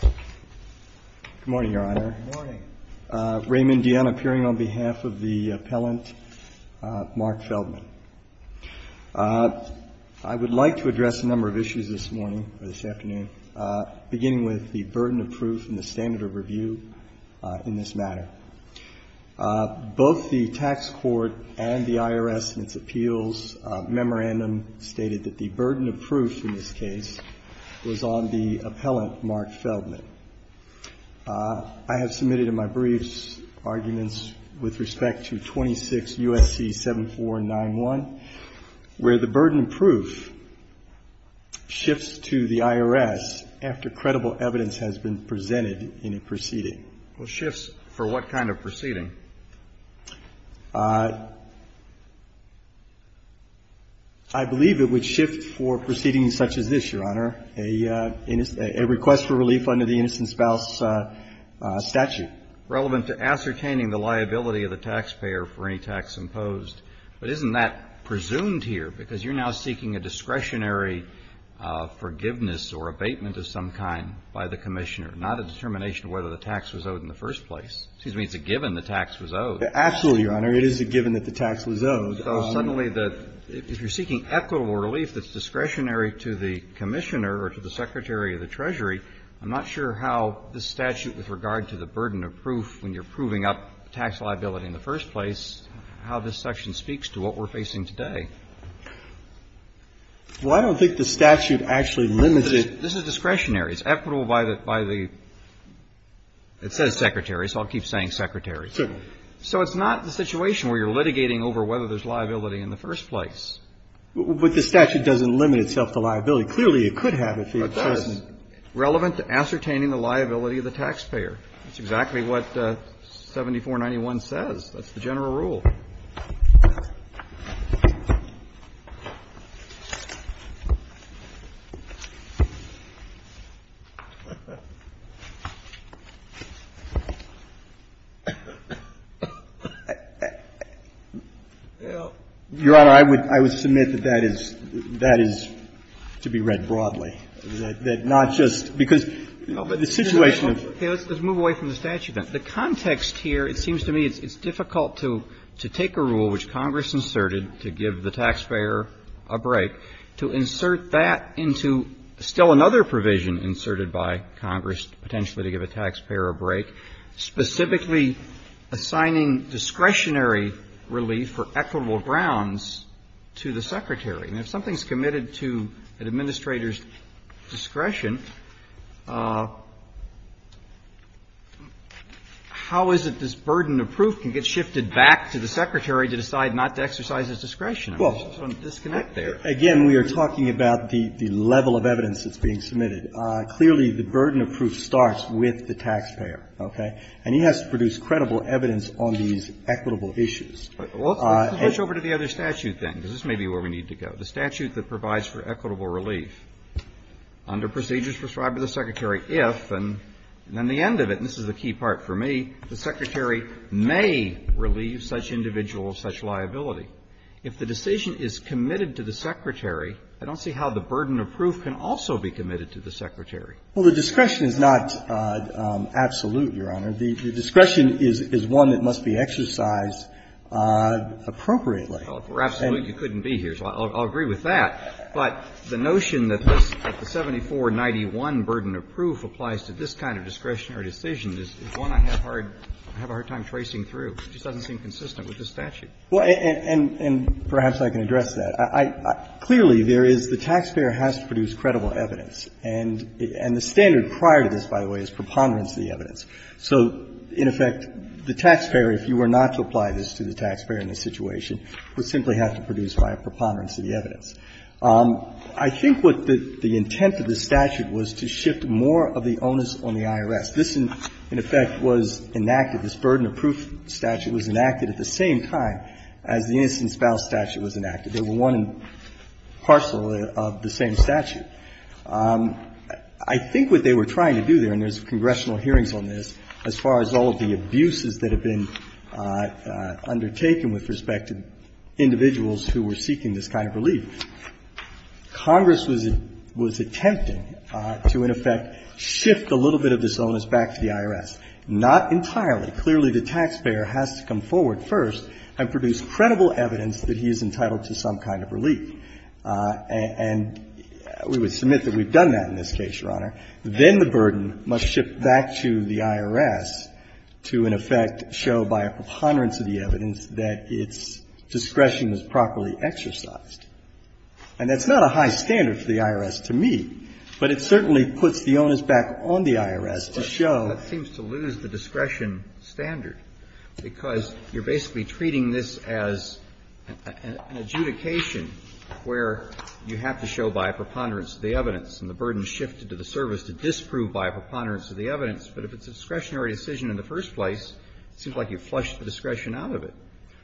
Good morning, Your Honor. Good morning. Raymond Dionne appearing on behalf of the appellant, Mark Feldman. I would like to address a number of issues this morning, or this afternoon, beginning with the burden of proof and the standard of review in this matter. Both the tax court and the IRS in its appeals memorandum stated that the burden of proof in this case was on the appellant, Mark Feldman. I have submitted in my briefs arguments with respect to 26 U.S.C. 7491, where the burden of proof shifts to the IRS after credible evidence has been presented in a proceeding. Well, shifts for what kind of proceeding? I believe it would shift for proceedings such as this, Your Honor, a request for relief under the innocent spouse statute. Relevant to ascertaining the liability of the taxpayer for any tax imposed. But isn't that presumed here, because you're now seeking a discretionary forgiveness or abatement of some kind by the Commissioner, not a determination of whether the tax was owed in the first place? Excuse me, it's a given the tax was owed. Absolutely, Your Honor. It is a given that the tax was owed. So suddenly, if you're seeking equitable relief that's discretionary to the Commissioner or to the Secretary of the Treasury, I'm not sure how this statute, with regard to the burden of proof when you're proving up tax liability in the first place, how this section speaks to what we're facing today. Well, I don't think the statute actually limits it. This is discretionary. It's equitable by the – it says Secretary, so I'll keep saying Secretary. So it's not the situation where you're litigating over whether there's liability in the first place. But the statute doesn't limit itself to liability. Clearly, it could have if he had chosen. But that is relevant to ascertaining the liability of the taxpayer. That's exactly what 7491 says. That's the general rule. Your Honor, I would – I would submit that that is – that is to be read broadly. That not just – because the situation of – Okay. Let's move away from the statute then. The context here, it seems to me it's difficult to take a rule which Congress inserted to give the taxpayer a break, to insert that into still another provision inserted by Congress potentially to give a taxpayer a break, specifically assigning discretionary relief for equitable grounds to the Secretary. And if something's committed to an administrator's discretion, how is it this burden of proof can get shifted back to the Secretary to decide not to exercise his discretion? I just want to disconnect there. Again, we are talking about the level of evidence that's being submitted. Clearly, the burden of proof starts with the taxpayer, okay? And he has to produce credible evidence on these equitable issues. Well, let's switch over to the other statute then, because this may be where we need to go, the statute that provides for equitable relief under procedures prescribed by the Secretary if, and then the end of it, and this is the key part for me, the Secretary may relieve such individual of such liability. If the decision is committed to the Secretary, I don't see how the burden of proof can also be committed to the Secretary. Well, the discretion is not absolute, Your Honor. The discretion is one that must be exercised appropriately. Well, for absolute, you couldn't be here, so I'll agree with that. But the notion that this, that the 7491 burden of proof applies to this kind of discretionary decision is one I have hard, I have a hard time tracing through. It just doesn't seem consistent with this statute. Well, and perhaps I can address that. Clearly, there is, the taxpayer has to produce credible evidence. And the standard prior to this, by the way, is preponderance of the evidence. So, in effect, the taxpayer, if you were not to apply this to the taxpayer in this situation, would simply have to produce prior preponderance of the evidence. I think what the intent of the statute was to shift more of the onus on the IRS. This, in effect, was enacted. This burden of proof statute was enacted at the same time as the innocent spouse statute was enacted. They were one parcel of the same statute. I think what they were trying to do there, and there's congressional hearings on this, as far as all of the abuses that have been undertaken with respect to individuals who were seeking this kind of relief, Congress was attempting to, in effect, shift a little bit of this onus back to the IRS. Not entirely. Clearly, the taxpayer has to come forward first and produce credible evidence that he is entitled to some kind of relief. And we would submit that we've done that in this case, Your Honor. Then the burden must shift back to the IRS to, in effect, show by a preponderance of the evidence that its discretion was properly exercised. And that's not a high standard for the IRS, to me, but it certainly puts the onus back on the IRS to show the discretion standard. Because you're basically treating this as an adjudication where you have to show by a preponderance of the evidence, and the burden shifted to the service to disprove by a preponderance of the evidence. But if it's a discretionary decision in the first place, it seems like you've flushed the discretion out of it.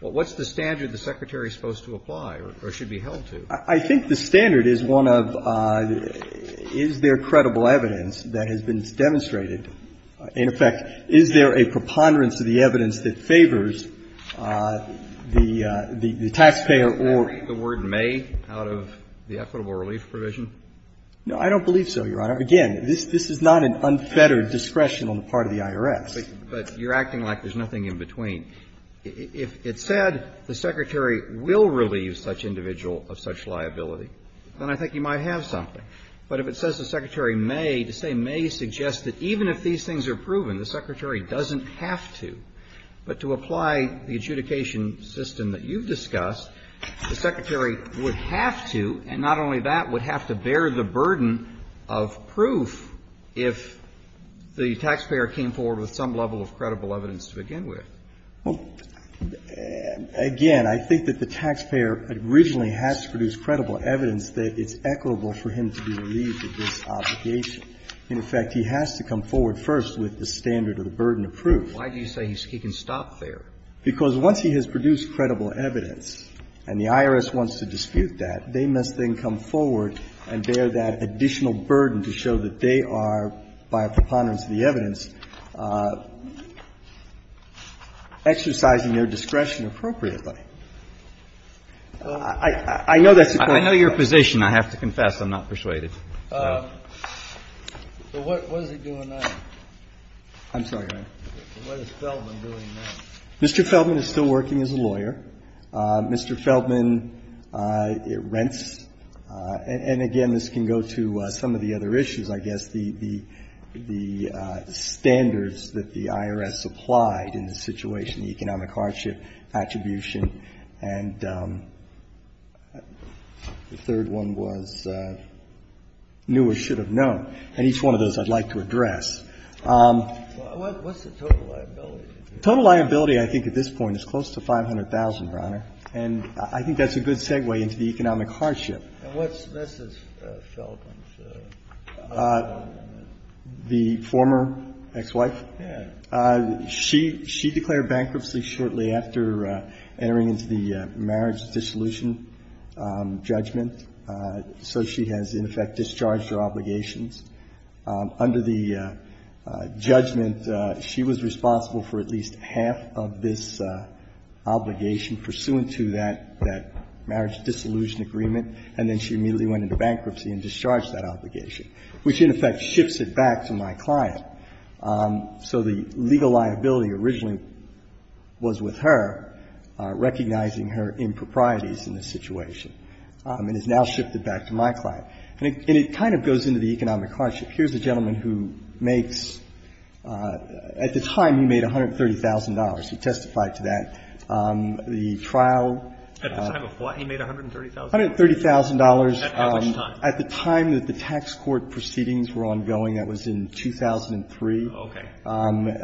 What's the standard the Secretary is supposed to apply or should be held to? I think the standard is one of is there credible evidence that has been demonstrated in effect, is there a preponderance of the evidence that favors the taxpayer or the word may out of the equitable relief provision? No, I don't believe so, Your Honor. Again, this is not an unfettered discretion on the part of the IRS. But you're acting like there's nothing in between. If it said the Secretary will relieve such individual of such liability, then I think you might have something. But if it says the Secretary may, to say may suggests that even if these things are proven, the Secretary doesn't have to, but to apply the adjudication system that you've discussed, the Secretary would have to, and not only that, would have to bear the burden of proof if the taxpayer came forward with some level of credible evidence to begin with. Well, again, I think that the taxpayer originally has to produce credible evidence that it's equitable for him to be relieved of this obligation. In effect, he has to come forward first with the standard of the burden of proof. Why do you say he can stop there? Because once he has produced credible evidence and the IRS wants to dispute that, they must then come forward and bear that additional burden to show that they are, by preponderance of the evidence, exercising their discretion appropriately. I know that's a question. I know your position. I have to confess. I'm not persuaded. So what is it doing now? I'm sorry, Your Honor. What is Feldman doing now? Mr. Feldman is still working as a lawyer. Mr. Feldman rents. And again, this can go to some of the other issues, I guess. The standards that the IRS applied in the situation, the economic hardship attribution and the third one was new or should have known. And each one of those I'd like to address. What's the total liability? The total liability, I think, at this point is close to 500,000, Your Honor. And I think that's a good segue into the economic hardship. And what's Mrs. Feldman's? The former ex-wife? Yes. She declared bankruptcy shortly after entering into the marriage dissolution judgment. So she has, in effect, discharged her obligations. Under the judgment, she was responsible for at least half of this obligation pursuant to that marriage dissolution agreement, and then she immediately went into bankruptcy and discharged that obligation, which in effect shifts it back to my client. So the legal liability originally was with her, recognizing her improprieties in this situation. And it's now shifted back to my client. And it kind of goes into the economic hardship. Here's a gentleman who makes at the time he made $130,000. He testified to that. The trial. At the time of what he made $130,000? $130,000. At how much time? At the time that the tax court proceedings were ongoing, that was in 2003. Okay. Not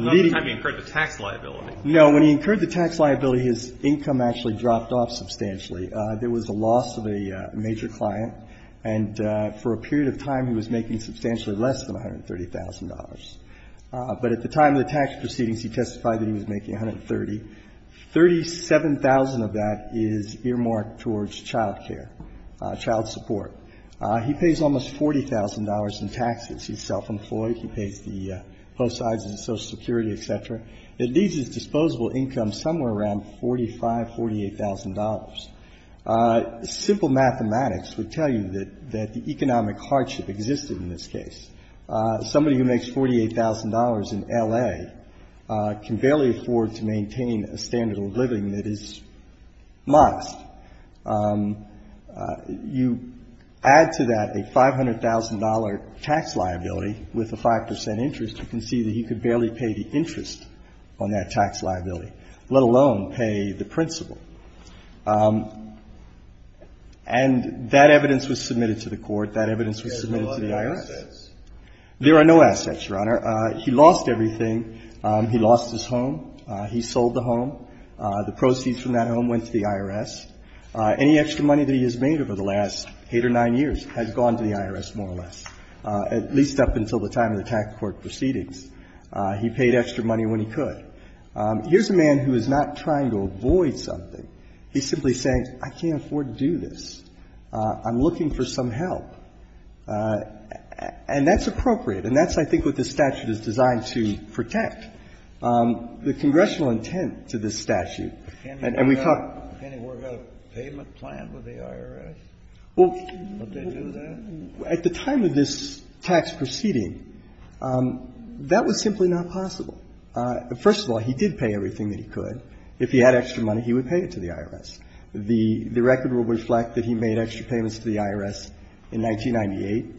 the time he incurred the tax liability. No. When he incurred the tax liability, his income actually dropped off substantially. There was a loss of a major client. And for a period of time, he was making substantially less than $130,000. But at the time of the tax proceedings, he testified that he was making $130,000. $137,000 of that is earmarked towards child care, child support. He pays almost $40,000 in taxes. He's self-employed. He pays the postage and Social Security, et cetera. It leaves his disposable income somewhere around $45,000, $48,000. Simple mathematics would tell you that the economic hardship existed in this case. Somebody who makes $48,000 in L.A. can barely afford to maintain a standard of living that is modest. You add to that a $500,000 tax liability with a 5% interest, you can see that he could barely pay the interest on that tax liability, let alone pay the principal. And that evidence was submitted to the court. That evidence was submitted to the IRS. There are no assets, Your Honor. He lost everything. He lost his home. He sold the home. The proceeds from that home went to the IRS. Any extra money that he has made over the last eight or nine years has gone to the IRS, more or less, at least up until the time of the tax court proceedings. He paid extra money when he could. Here's a man who is not trying to avoid something. He's simply saying, I can't afford to do this. I'm looking for some help. And that's appropriate. And that's, I think, what this statute is designed to protect. The congressional intent to this statute, and we thought — Can he work out a payment plan with the IRS? Would they do that? At the time of this tax proceeding, that was simply not possible. First of all, he did pay everything that he could. If he had extra money, he would pay it to the IRS. The record will reflect that he made extra payments to the IRS in 1998, 1999.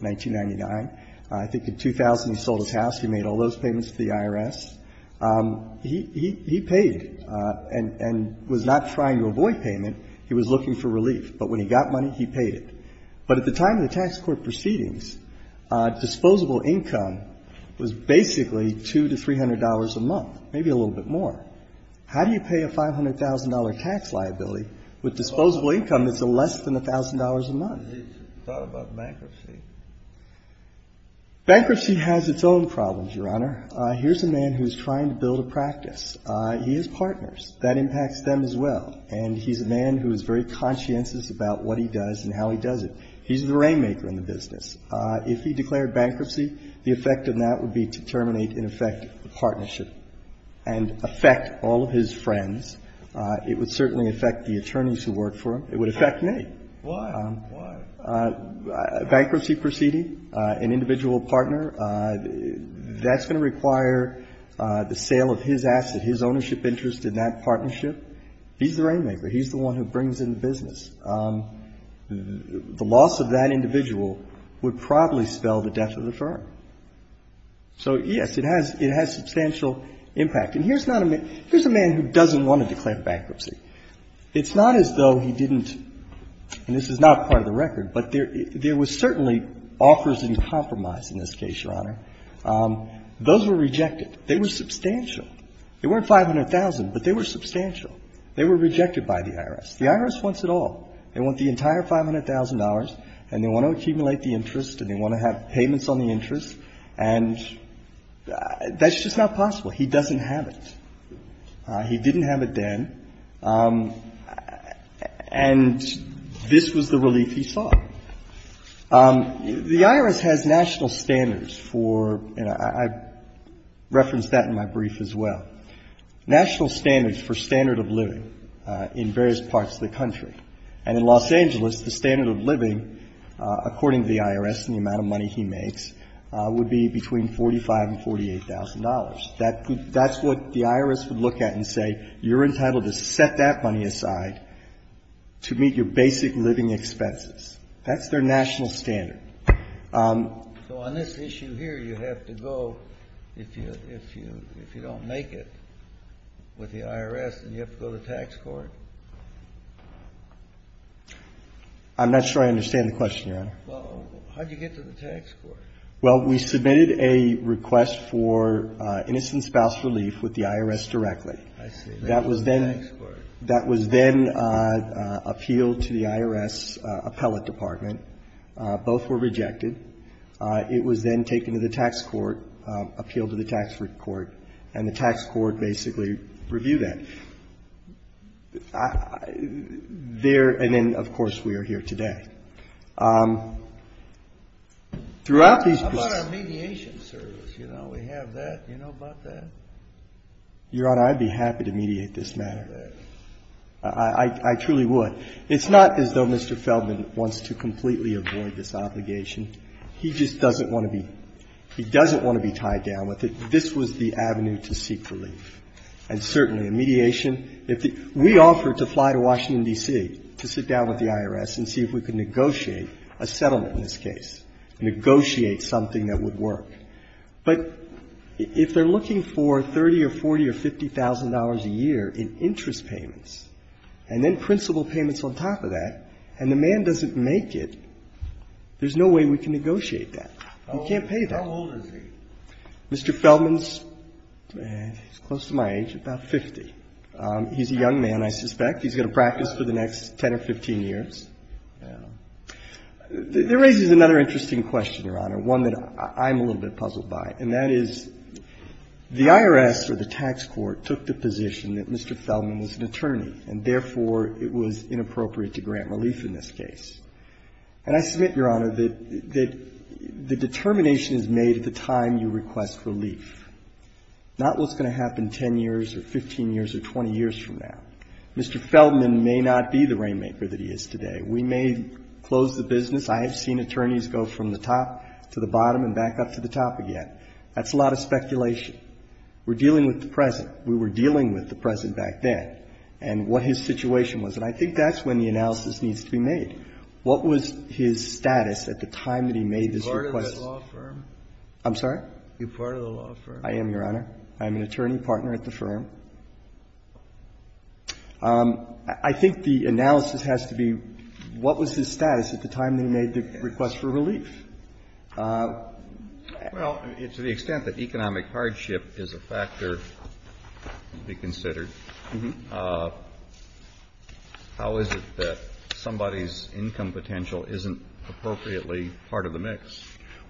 I think in 2000 he sold his house. He made all those payments to the IRS. He paid and was not trying to avoid payment. He was looking for relief. But when he got money, he paid it. But at the time of the tax court proceedings, disposable income was basically $200 to $300 a month, maybe a little bit more. How do you pay a $500,000 tax liability with disposable income that's less than $1,000 a month? He thought about bankruptcy. Bankruptcy has its own problems, Your Honor. Here's a man who's trying to build a practice. He has partners. That impacts them as well. And he's a man who is very conscientious about what he does and how he does it. He's the rainmaker in the business. If he declared bankruptcy, the effect of that would be to terminate, in effect, the partnership and affect all of his friends. It would certainly affect the attorneys who work for him. It would affect me. Why? Why? Bankruptcy proceeding, an individual partner, that's going to require the sale of his asset, his ownership interest in that partnership. He's the rainmaker. He's the one who brings in the business. The loss of that individual would probably spell the death of the firm. So, yes, it has substantial impact. And here's not a man — here's a man who doesn't want to declare bankruptcy. It's not as though he didn't, and this is not part of the record, but there was certainly offers in compromise in this case, Your Honor. Those were rejected. They were substantial. They weren't $500,000, but they were substantial. They were rejected by the IRS. The IRS wants it all. They want the entire $500,000, and they want to accumulate the interest, and they want to have payments on the interest. And that's just not possible. He doesn't have it. He didn't have it then. And this was the relief he saw. The IRS has national standards for — and I referenced that in my brief as well. National standards for standard of living in various parts of the country. And in Los Angeles, the standard of living, according to the IRS and the amount of money he makes, would be between $45,000 and $48,000. That's what the IRS would look at and say, you're entitled to set that money aside to meet your basic living expenses. That's their national standard. So on this issue here, you have to go, if you don't make it with the IRS, then you have to go to tax court? I'm not sure I understand the question, Your Honor. Well, how did you get to the tax court? Well, we submitted a request for innocent spouse relief with the IRS directly. I see. That was then appealed to the IRS appellate department. Both were rejected. It was then taken to the tax court, appealed to the tax court, and the tax court basically reviewed that. There and then, of course, we are here today. Throughout these — How about our mediation service? You know, we have that. Do you know about that? Your Honor, I'd be happy to mediate this matter. I truly would. It's not as though Mr. Feldman wants to completely avoid this obligation. He just doesn't want to be — he doesn't want to be tied down with it. This was the avenue to seek relief. And certainly mediation, if the — we offered to fly to Washington, D.C., to sit down with the IRS and see if we could negotiate a settlement in this case, negotiate something that would work. But if they're looking for $30,000 or $40,000 or $50,000 a year in interest payments and then principal payments on top of that, and the man doesn't make it, there's no way we can negotiate that. You can't pay that. How old is he? Mr. Feldman's close to my age, about 50. He's a young man, I suspect. He's going to practice for the next 10 or 15 years. There raises another interesting question, Your Honor, one that I'm a little bit puzzled by, and that is the IRS or the tax court took the position that Mr. Feldman was an attorney, and therefore, it was inappropriate to grant relief in this case. And I submit, Your Honor, that the determination is made at the time you request relief, not what's going to happen 10 years or 15 years or 20 years from now. Mr. Feldman may not be the rainmaker that he is today. We may close the business. I have seen attorneys go from the top to the bottom and back up to the top again. We're dealing with the present. We were dealing with the present back then and what his situation was. And I think that's when the analysis needs to be made. What was his status at the time that he made this request? Are you part of the law firm? I'm sorry? Are you part of the law firm? I am, Your Honor. I am an attorney partner at the firm. I think the analysis has to be, what was his status at the time that he made the request for relief? Well, to the extent that economic hardship is a factor to be considered, how is it that somebody's income potential isn't appropriately part of the mix?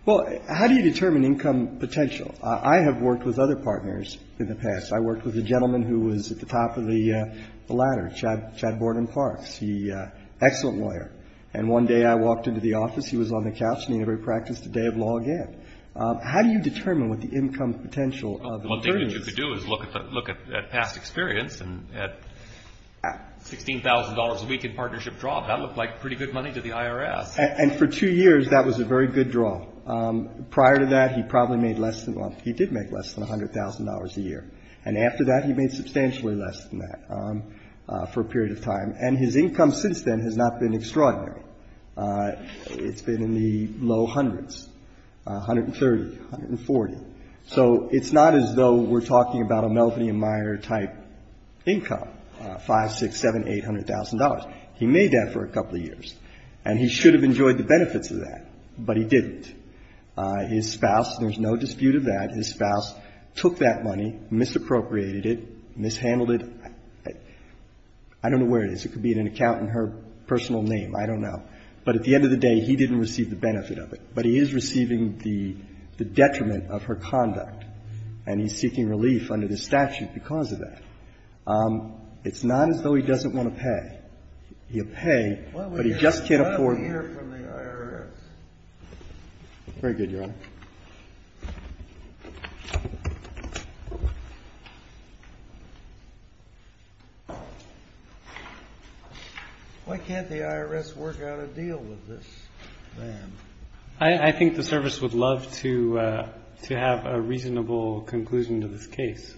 Well, how do you determine income potential? I have worked with other partners in the past. I worked with a gentleman who was at the top of the ladder, Chad Borden Parks, the excellent lawyer. And one day I walked into the office. He was on the couch and he never practiced a day of law again. How do you determine what the income potential of an attorney is? Well, one thing that you could do is look at past experience. And at $16,000 a week in partnership draw, that looked like pretty good money to the IRS. And for two years, that was a very good draw. Prior to that, he probably made less than, well, he did make less than $100,000 a year. And after that, he made substantially less than that for a period of time. And his income since then has not been extraordinary. It's been in the low hundreds, $130,000, $140,000. So it's not as though we're talking about a Melvin E. Meyer type income, $500,000, $600,000, $700,000, $800,000. He made that for a couple of years. And he should have enjoyed the benefits of that, but he didn't. His spouse, there's no dispute of that, his spouse took that money, misappropriated it, mishandled it. I don't know where it is. It could be in an account in her personal name. I don't know. But at the end of the day, he didn't receive the benefit of it. But he is receiving the detriment of her conduct, and he's seeking relief under this statute because of that. It's not as though he doesn't want to pay. He'll pay, but he just can't afford it. Very good, Your Honor. Why can't the IRS work out a deal with this man? I think the service would love to have a reasonable conclusion to this case.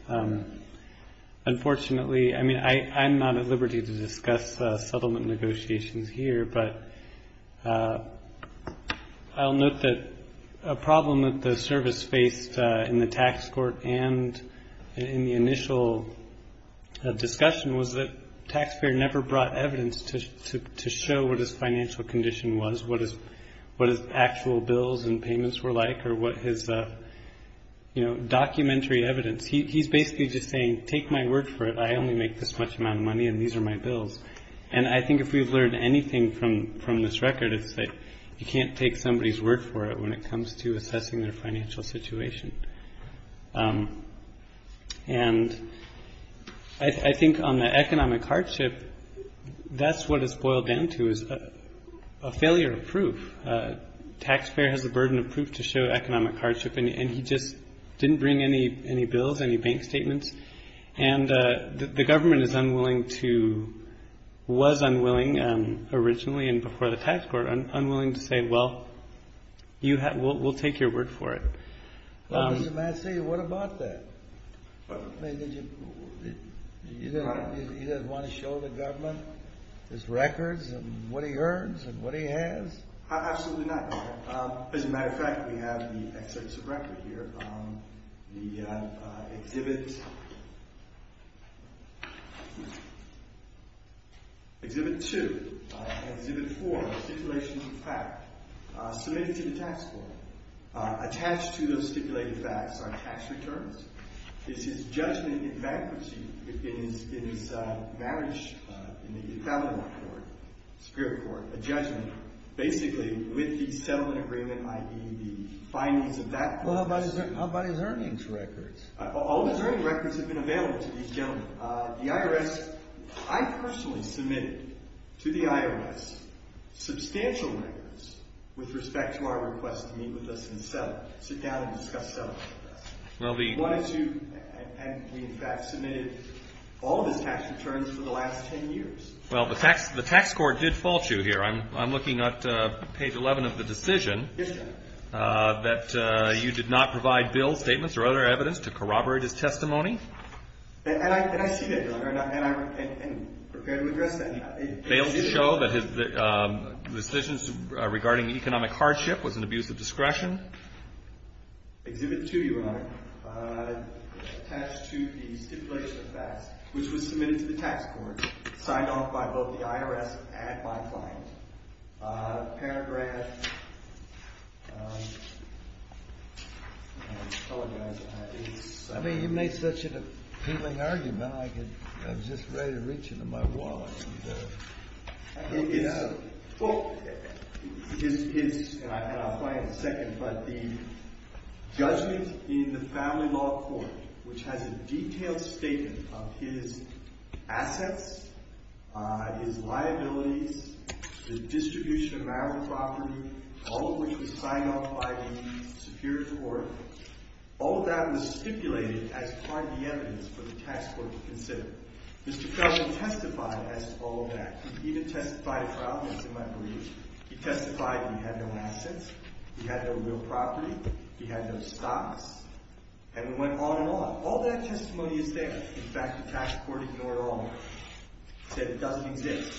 Unfortunately, I mean, I'm not at liberty to discuss settlement negotiations here, but I'll note that a problem that the service faced in the tax court and in the initial discussion was that taxpayer never brought evidence to show what his financial condition was, what his actual bills and payments were like, or what his documentary evidence. He's basically just saying, take my word for it. I only make this much amount of money, and these are my bills. And I think if we've learned anything from this record, it's that you can't take somebody's word for it when it comes to assessing their financial situation. And I think on the economic hardship, that's what it's boiled down to is a failure of proof. Taxpayer has a burden of proof to show economic hardship, and he just didn't bring any bills, any bank statements. And the government is unwilling to, was unwilling originally and before the tax court, unwilling to say, well, we'll take your word for it. What about that? You don't want to show the government his records and what he earns and what he has? Absolutely not. As a matter of fact, we have the excerpts of record here. The Exhibit 2, Exhibit 4, Stipulations of Fact, submitted to the tax court. Attached to those stipulated facts are tax returns. It's his judgment in bankruptcy in his marriage in the family law court, spirit court, a judgment basically with the settlement agreement, i.e. the findings of that court. Well, how about his earnings records? All of his earnings records have been available to these gentlemen. The IRS, I personally submitted to the IRS substantial records with respect to our request to meet with us and sit down and discuss settlement with us. We wanted to, and we in fact submitted all of his tax returns for the last 10 years. Well, the tax court did fault you here. I'm looking at page 11 of the decision that you did not provide bill statements or other evidence to corroborate his testimony. And I see that, Your Honor, and I'm prepared to address that. Failed to show that his decisions regarding economic hardship was an abuse of discretion? Exhibit 2, Your Honor, attached to the stipulation of facts, which was submitted to the tax court, signed off by both the IRS and my client. Paragraph, I apologize. I mean, you made such an appealing argument, I was just ready to reach into my wallet. Well, his, and I'll find it in a second, but the judgment in the family law court, which has a detailed statement of his assets, his liabilities, the distribution of marital property, all of which was signed off by the superior court, all of that was stipulated as part of the evidence for the tax court to consider. Mr. Felton testified as to all of that. He even testified at trial, as you might believe. He testified he had no assets, he had no real property, he had no stocks, and it went on and on. All that testimony is there. In fact, the tax court ignored all of it. It said it doesn't exist.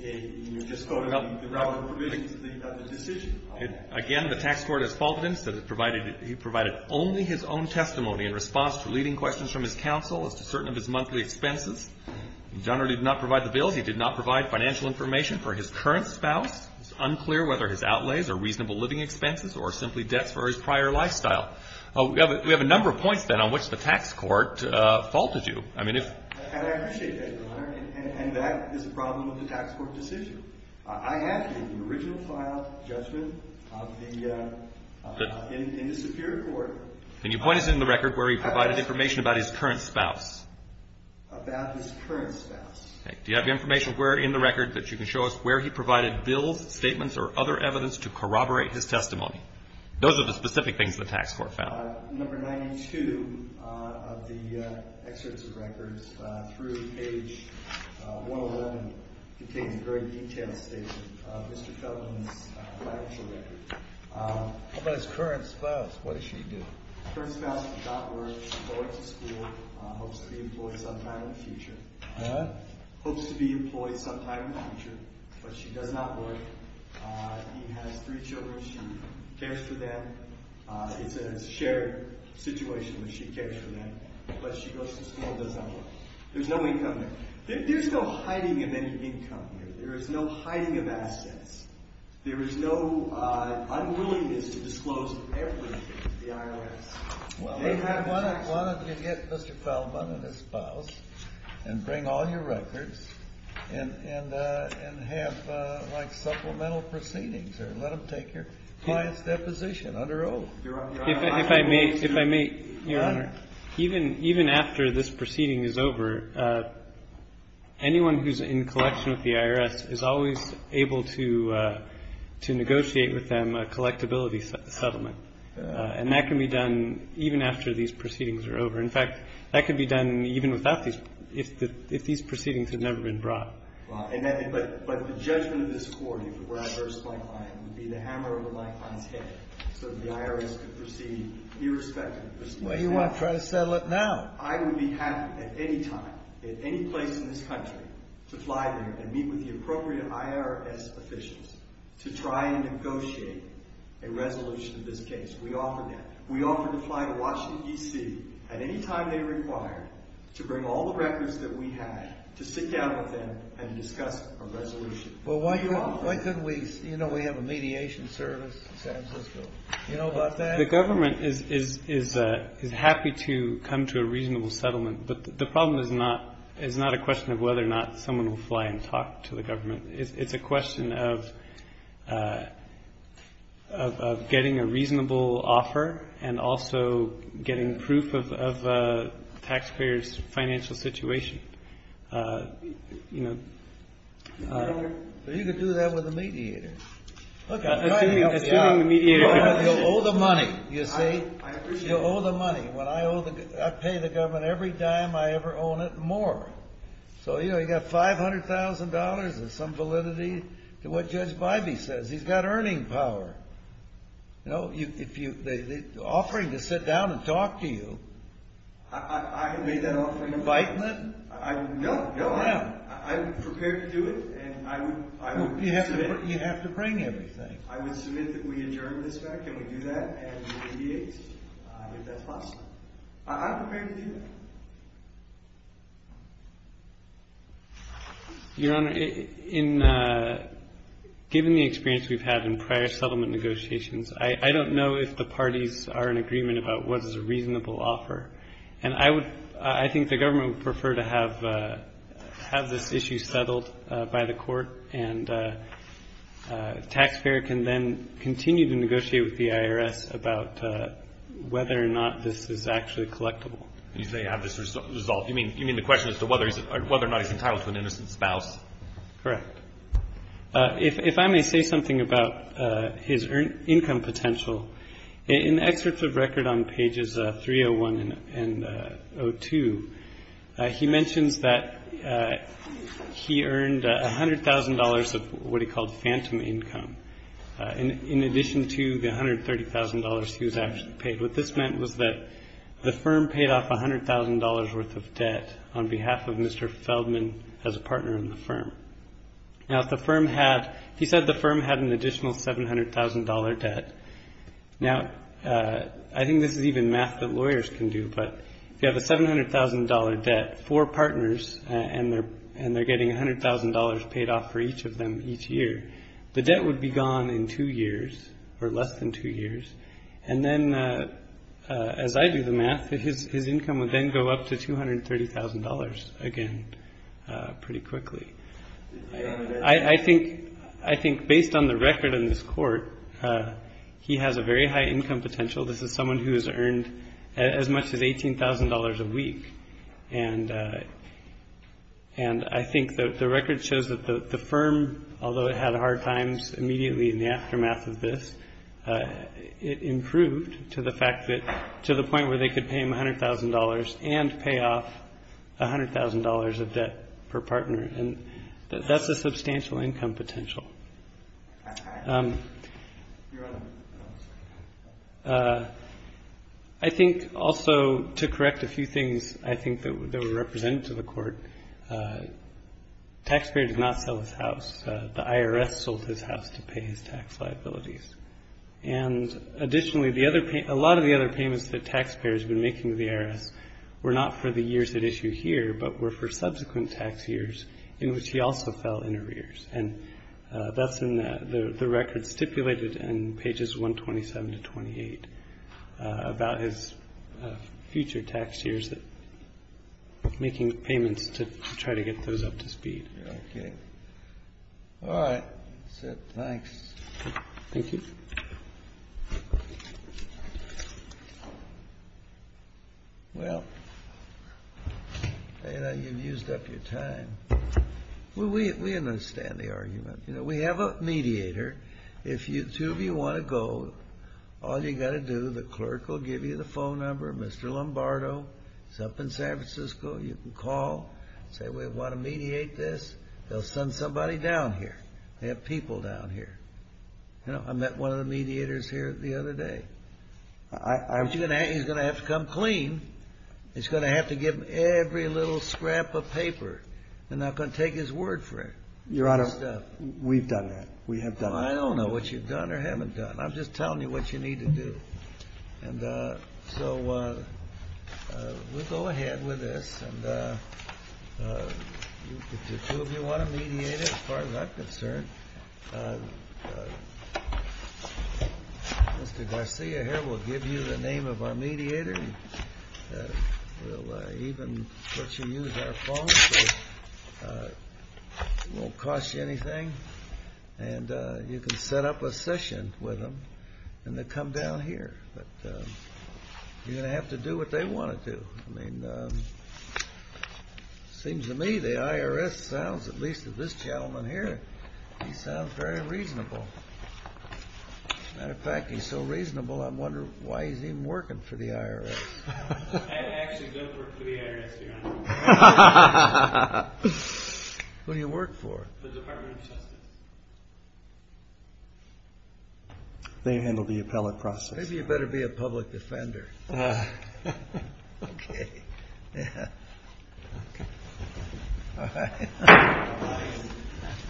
You're just quoting the relevant provisions of the decision. Again, the tax court has faulted him, said he provided only his own testimony in response to leading questions from his counsel as to certain of his monthly expenses. He generally did not provide the bill. He did not provide financial information for his current spouse. It's unclear whether his outlays are reasonable living expenses or simply debts for his prior lifestyle. We have a number of points, then, on which the tax court faulted you. And I appreciate that, Your Honor, and that is a problem of the tax court decision. I have the original file judgment in the superior court. Can you point us in the record where he provided information about his current spouse? About his current spouse. Do you have information in the record that you can show us where he provided bills, statements, or other evidence to corroborate his testimony? Those are the specific things the tax court found. Number 92 of the excerpts of records through page 111 contains a very detailed statement of Mr. Feldman's financial record. What about his current spouse? What did she do? Her spouse does not work. She goes to school, hopes to be employed sometime in the future. What? Hopes to be employed sometime in the future, but she does not work. He has three children. She cares for them. It's a shared situation that she cares for them, but she goes to school and does not work. There's no income there. There's no hiding of any income there. There is no hiding of assets. There is no unwillingness to disclose everything to the IRS. Why don't you get Mr. Feldman and his spouse and bring all your records and have supplemental proceedings or let them take your client's deposition under oath? If I may, Your Honor, even after this proceeding is over, anyone who's in collection with the IRS is always able to negotiate with them a collectability settlement. And that can be done even after these proceedings are over. In fact, that can be done even if these proceedings had never been brought. But the judgment of this Court, if it were adverse to my client, would be the hammer over my client's head so that the IRS could proceed irrespective of proceedings. Well, you want to try to settle it now. I would be happy at any time, at any place in this country, to fly there and meet with the appropriate IRS officials to try and negotiate a resolution of this case. We offer that. We offer to fly to Washington, D.C. at any time they require to bring all the records that we have to sit down with them and discuss a resolution. Well, why don't we, you know, we have a mediation service in San Francisco. You know about that? The government is happy to come to a reasonable settlement. But the problem is not a question of whether or not someone will fly and talk to the government. It's a question of getting a reasonable offer and also getting proof of a taxpayer's financial situation. You know. You could do that with a mediator. Look, I'm trying to help you out. You'll owe the money, you see. I agree with you. You'll owe the money. I pay the government every dime I ever own it more. So, you know, you've got $500,000 and some validity to what Judge Bybee says. He's got earning power. You know, the offering to sit down and talk to you. I have made that offering. Invitement? No, no. I'm prepared to do it. You have to bring everything. I would submit that we adjourn this back and we do that and we mediate if that's possible. I'm prepared to do that. Your Honor, given the experience we've had in prior settlement negotiations, I don't know if the parties are in agreement about what is a reasonable offer. And I think the government would prefer to have this issue settled by the court, and the taxpayer can then continue to negotiate with the IRS about whether or not this is actually collectible. You say have this resolved. You mean the question as to whether or not he's entitled to an innocent spouse? Correct. If I may say something about his income potential, in excerpts of record on pages 301 and 02, he mentions that he earned $100,000 of what he called phantom income, in addition to the $130,000 he was actually paid. What this meant was that the firm paid off $100,000 worth of debt on behalf of Mr. Feldman as a partner in the firm. Now, he said the firm had an additional $700,000 debt. Now, I think this is even math that lawyers can do, but if you have a $700,000 debt, four partners, and they're getting $100,000 paid off for each of them each year, the debt would be gone in two years or less than two years. And then as I do the math, his income would then go up to $230,000 again pretty quickly. I think based on the record in this court, he has a very high income potential. This is someone who has earned as much as $18,000 a week. And I think that the record shows that the firm, although it had hard times immediately in the aftermath of this, it improved to the fact that to the point where they could pay him $100,000 and pay off $100,000 of debt per partner. And that's a substantial income potential. I think also to correct a few things I think that were represented to the court, taxpayer did not sell his house. The IRS sold his house to pay his tax liabilities. And additionally, a lot of the other payments that taxpayers have been making to the IRS were not for the years at issue here but were for subsequent tax years in which he also fell in arrears. And that's in the record stipulated in pages 127 to 28 about his future tax years, making payments to try to get those up to speed. Okay. All right. That's it. Thanks. Thank you. Well, you know, you've used up your time. Well, we understand the argument. You know, we have a mediator. If the two of you want to go, all you've got to do, the clerk will give you the phone number, Mr. Lombardo is up in San Francisco, you can call, say, we want to mediate this. They'll send somebody down here. They have people down here. You know, I met one of the mediators here the other day. He's going to have to come clean. He's going to have to give them every little scrap of paper. They're not going to take his word for it. Your Honor, we've done that. We have done that. I don't know what you've done or haven't done. I'm just telling you what you need to do. And so we'll go ahead with this. And if the two of you want to mediate it, as far as I'm concerned, Mr. Garcia here will give you the name of our mediator. He'll even let you use our phone, so it won't cost you anything. And you can set up a session with him, and they'll come down here. But you're going to have to do what they want to do. I mean, it seems to me the IRS sounds, at least to this gentleman here, he sounds very reasonable. As a matter of fact, he's so reasonable, I wonder why he's even working for the IRS. I actually don't work for the IRS, Your Honor. Who do you work for? The Department of Justice. They handle the appellate process. Maybe you better be a public defender. Okay.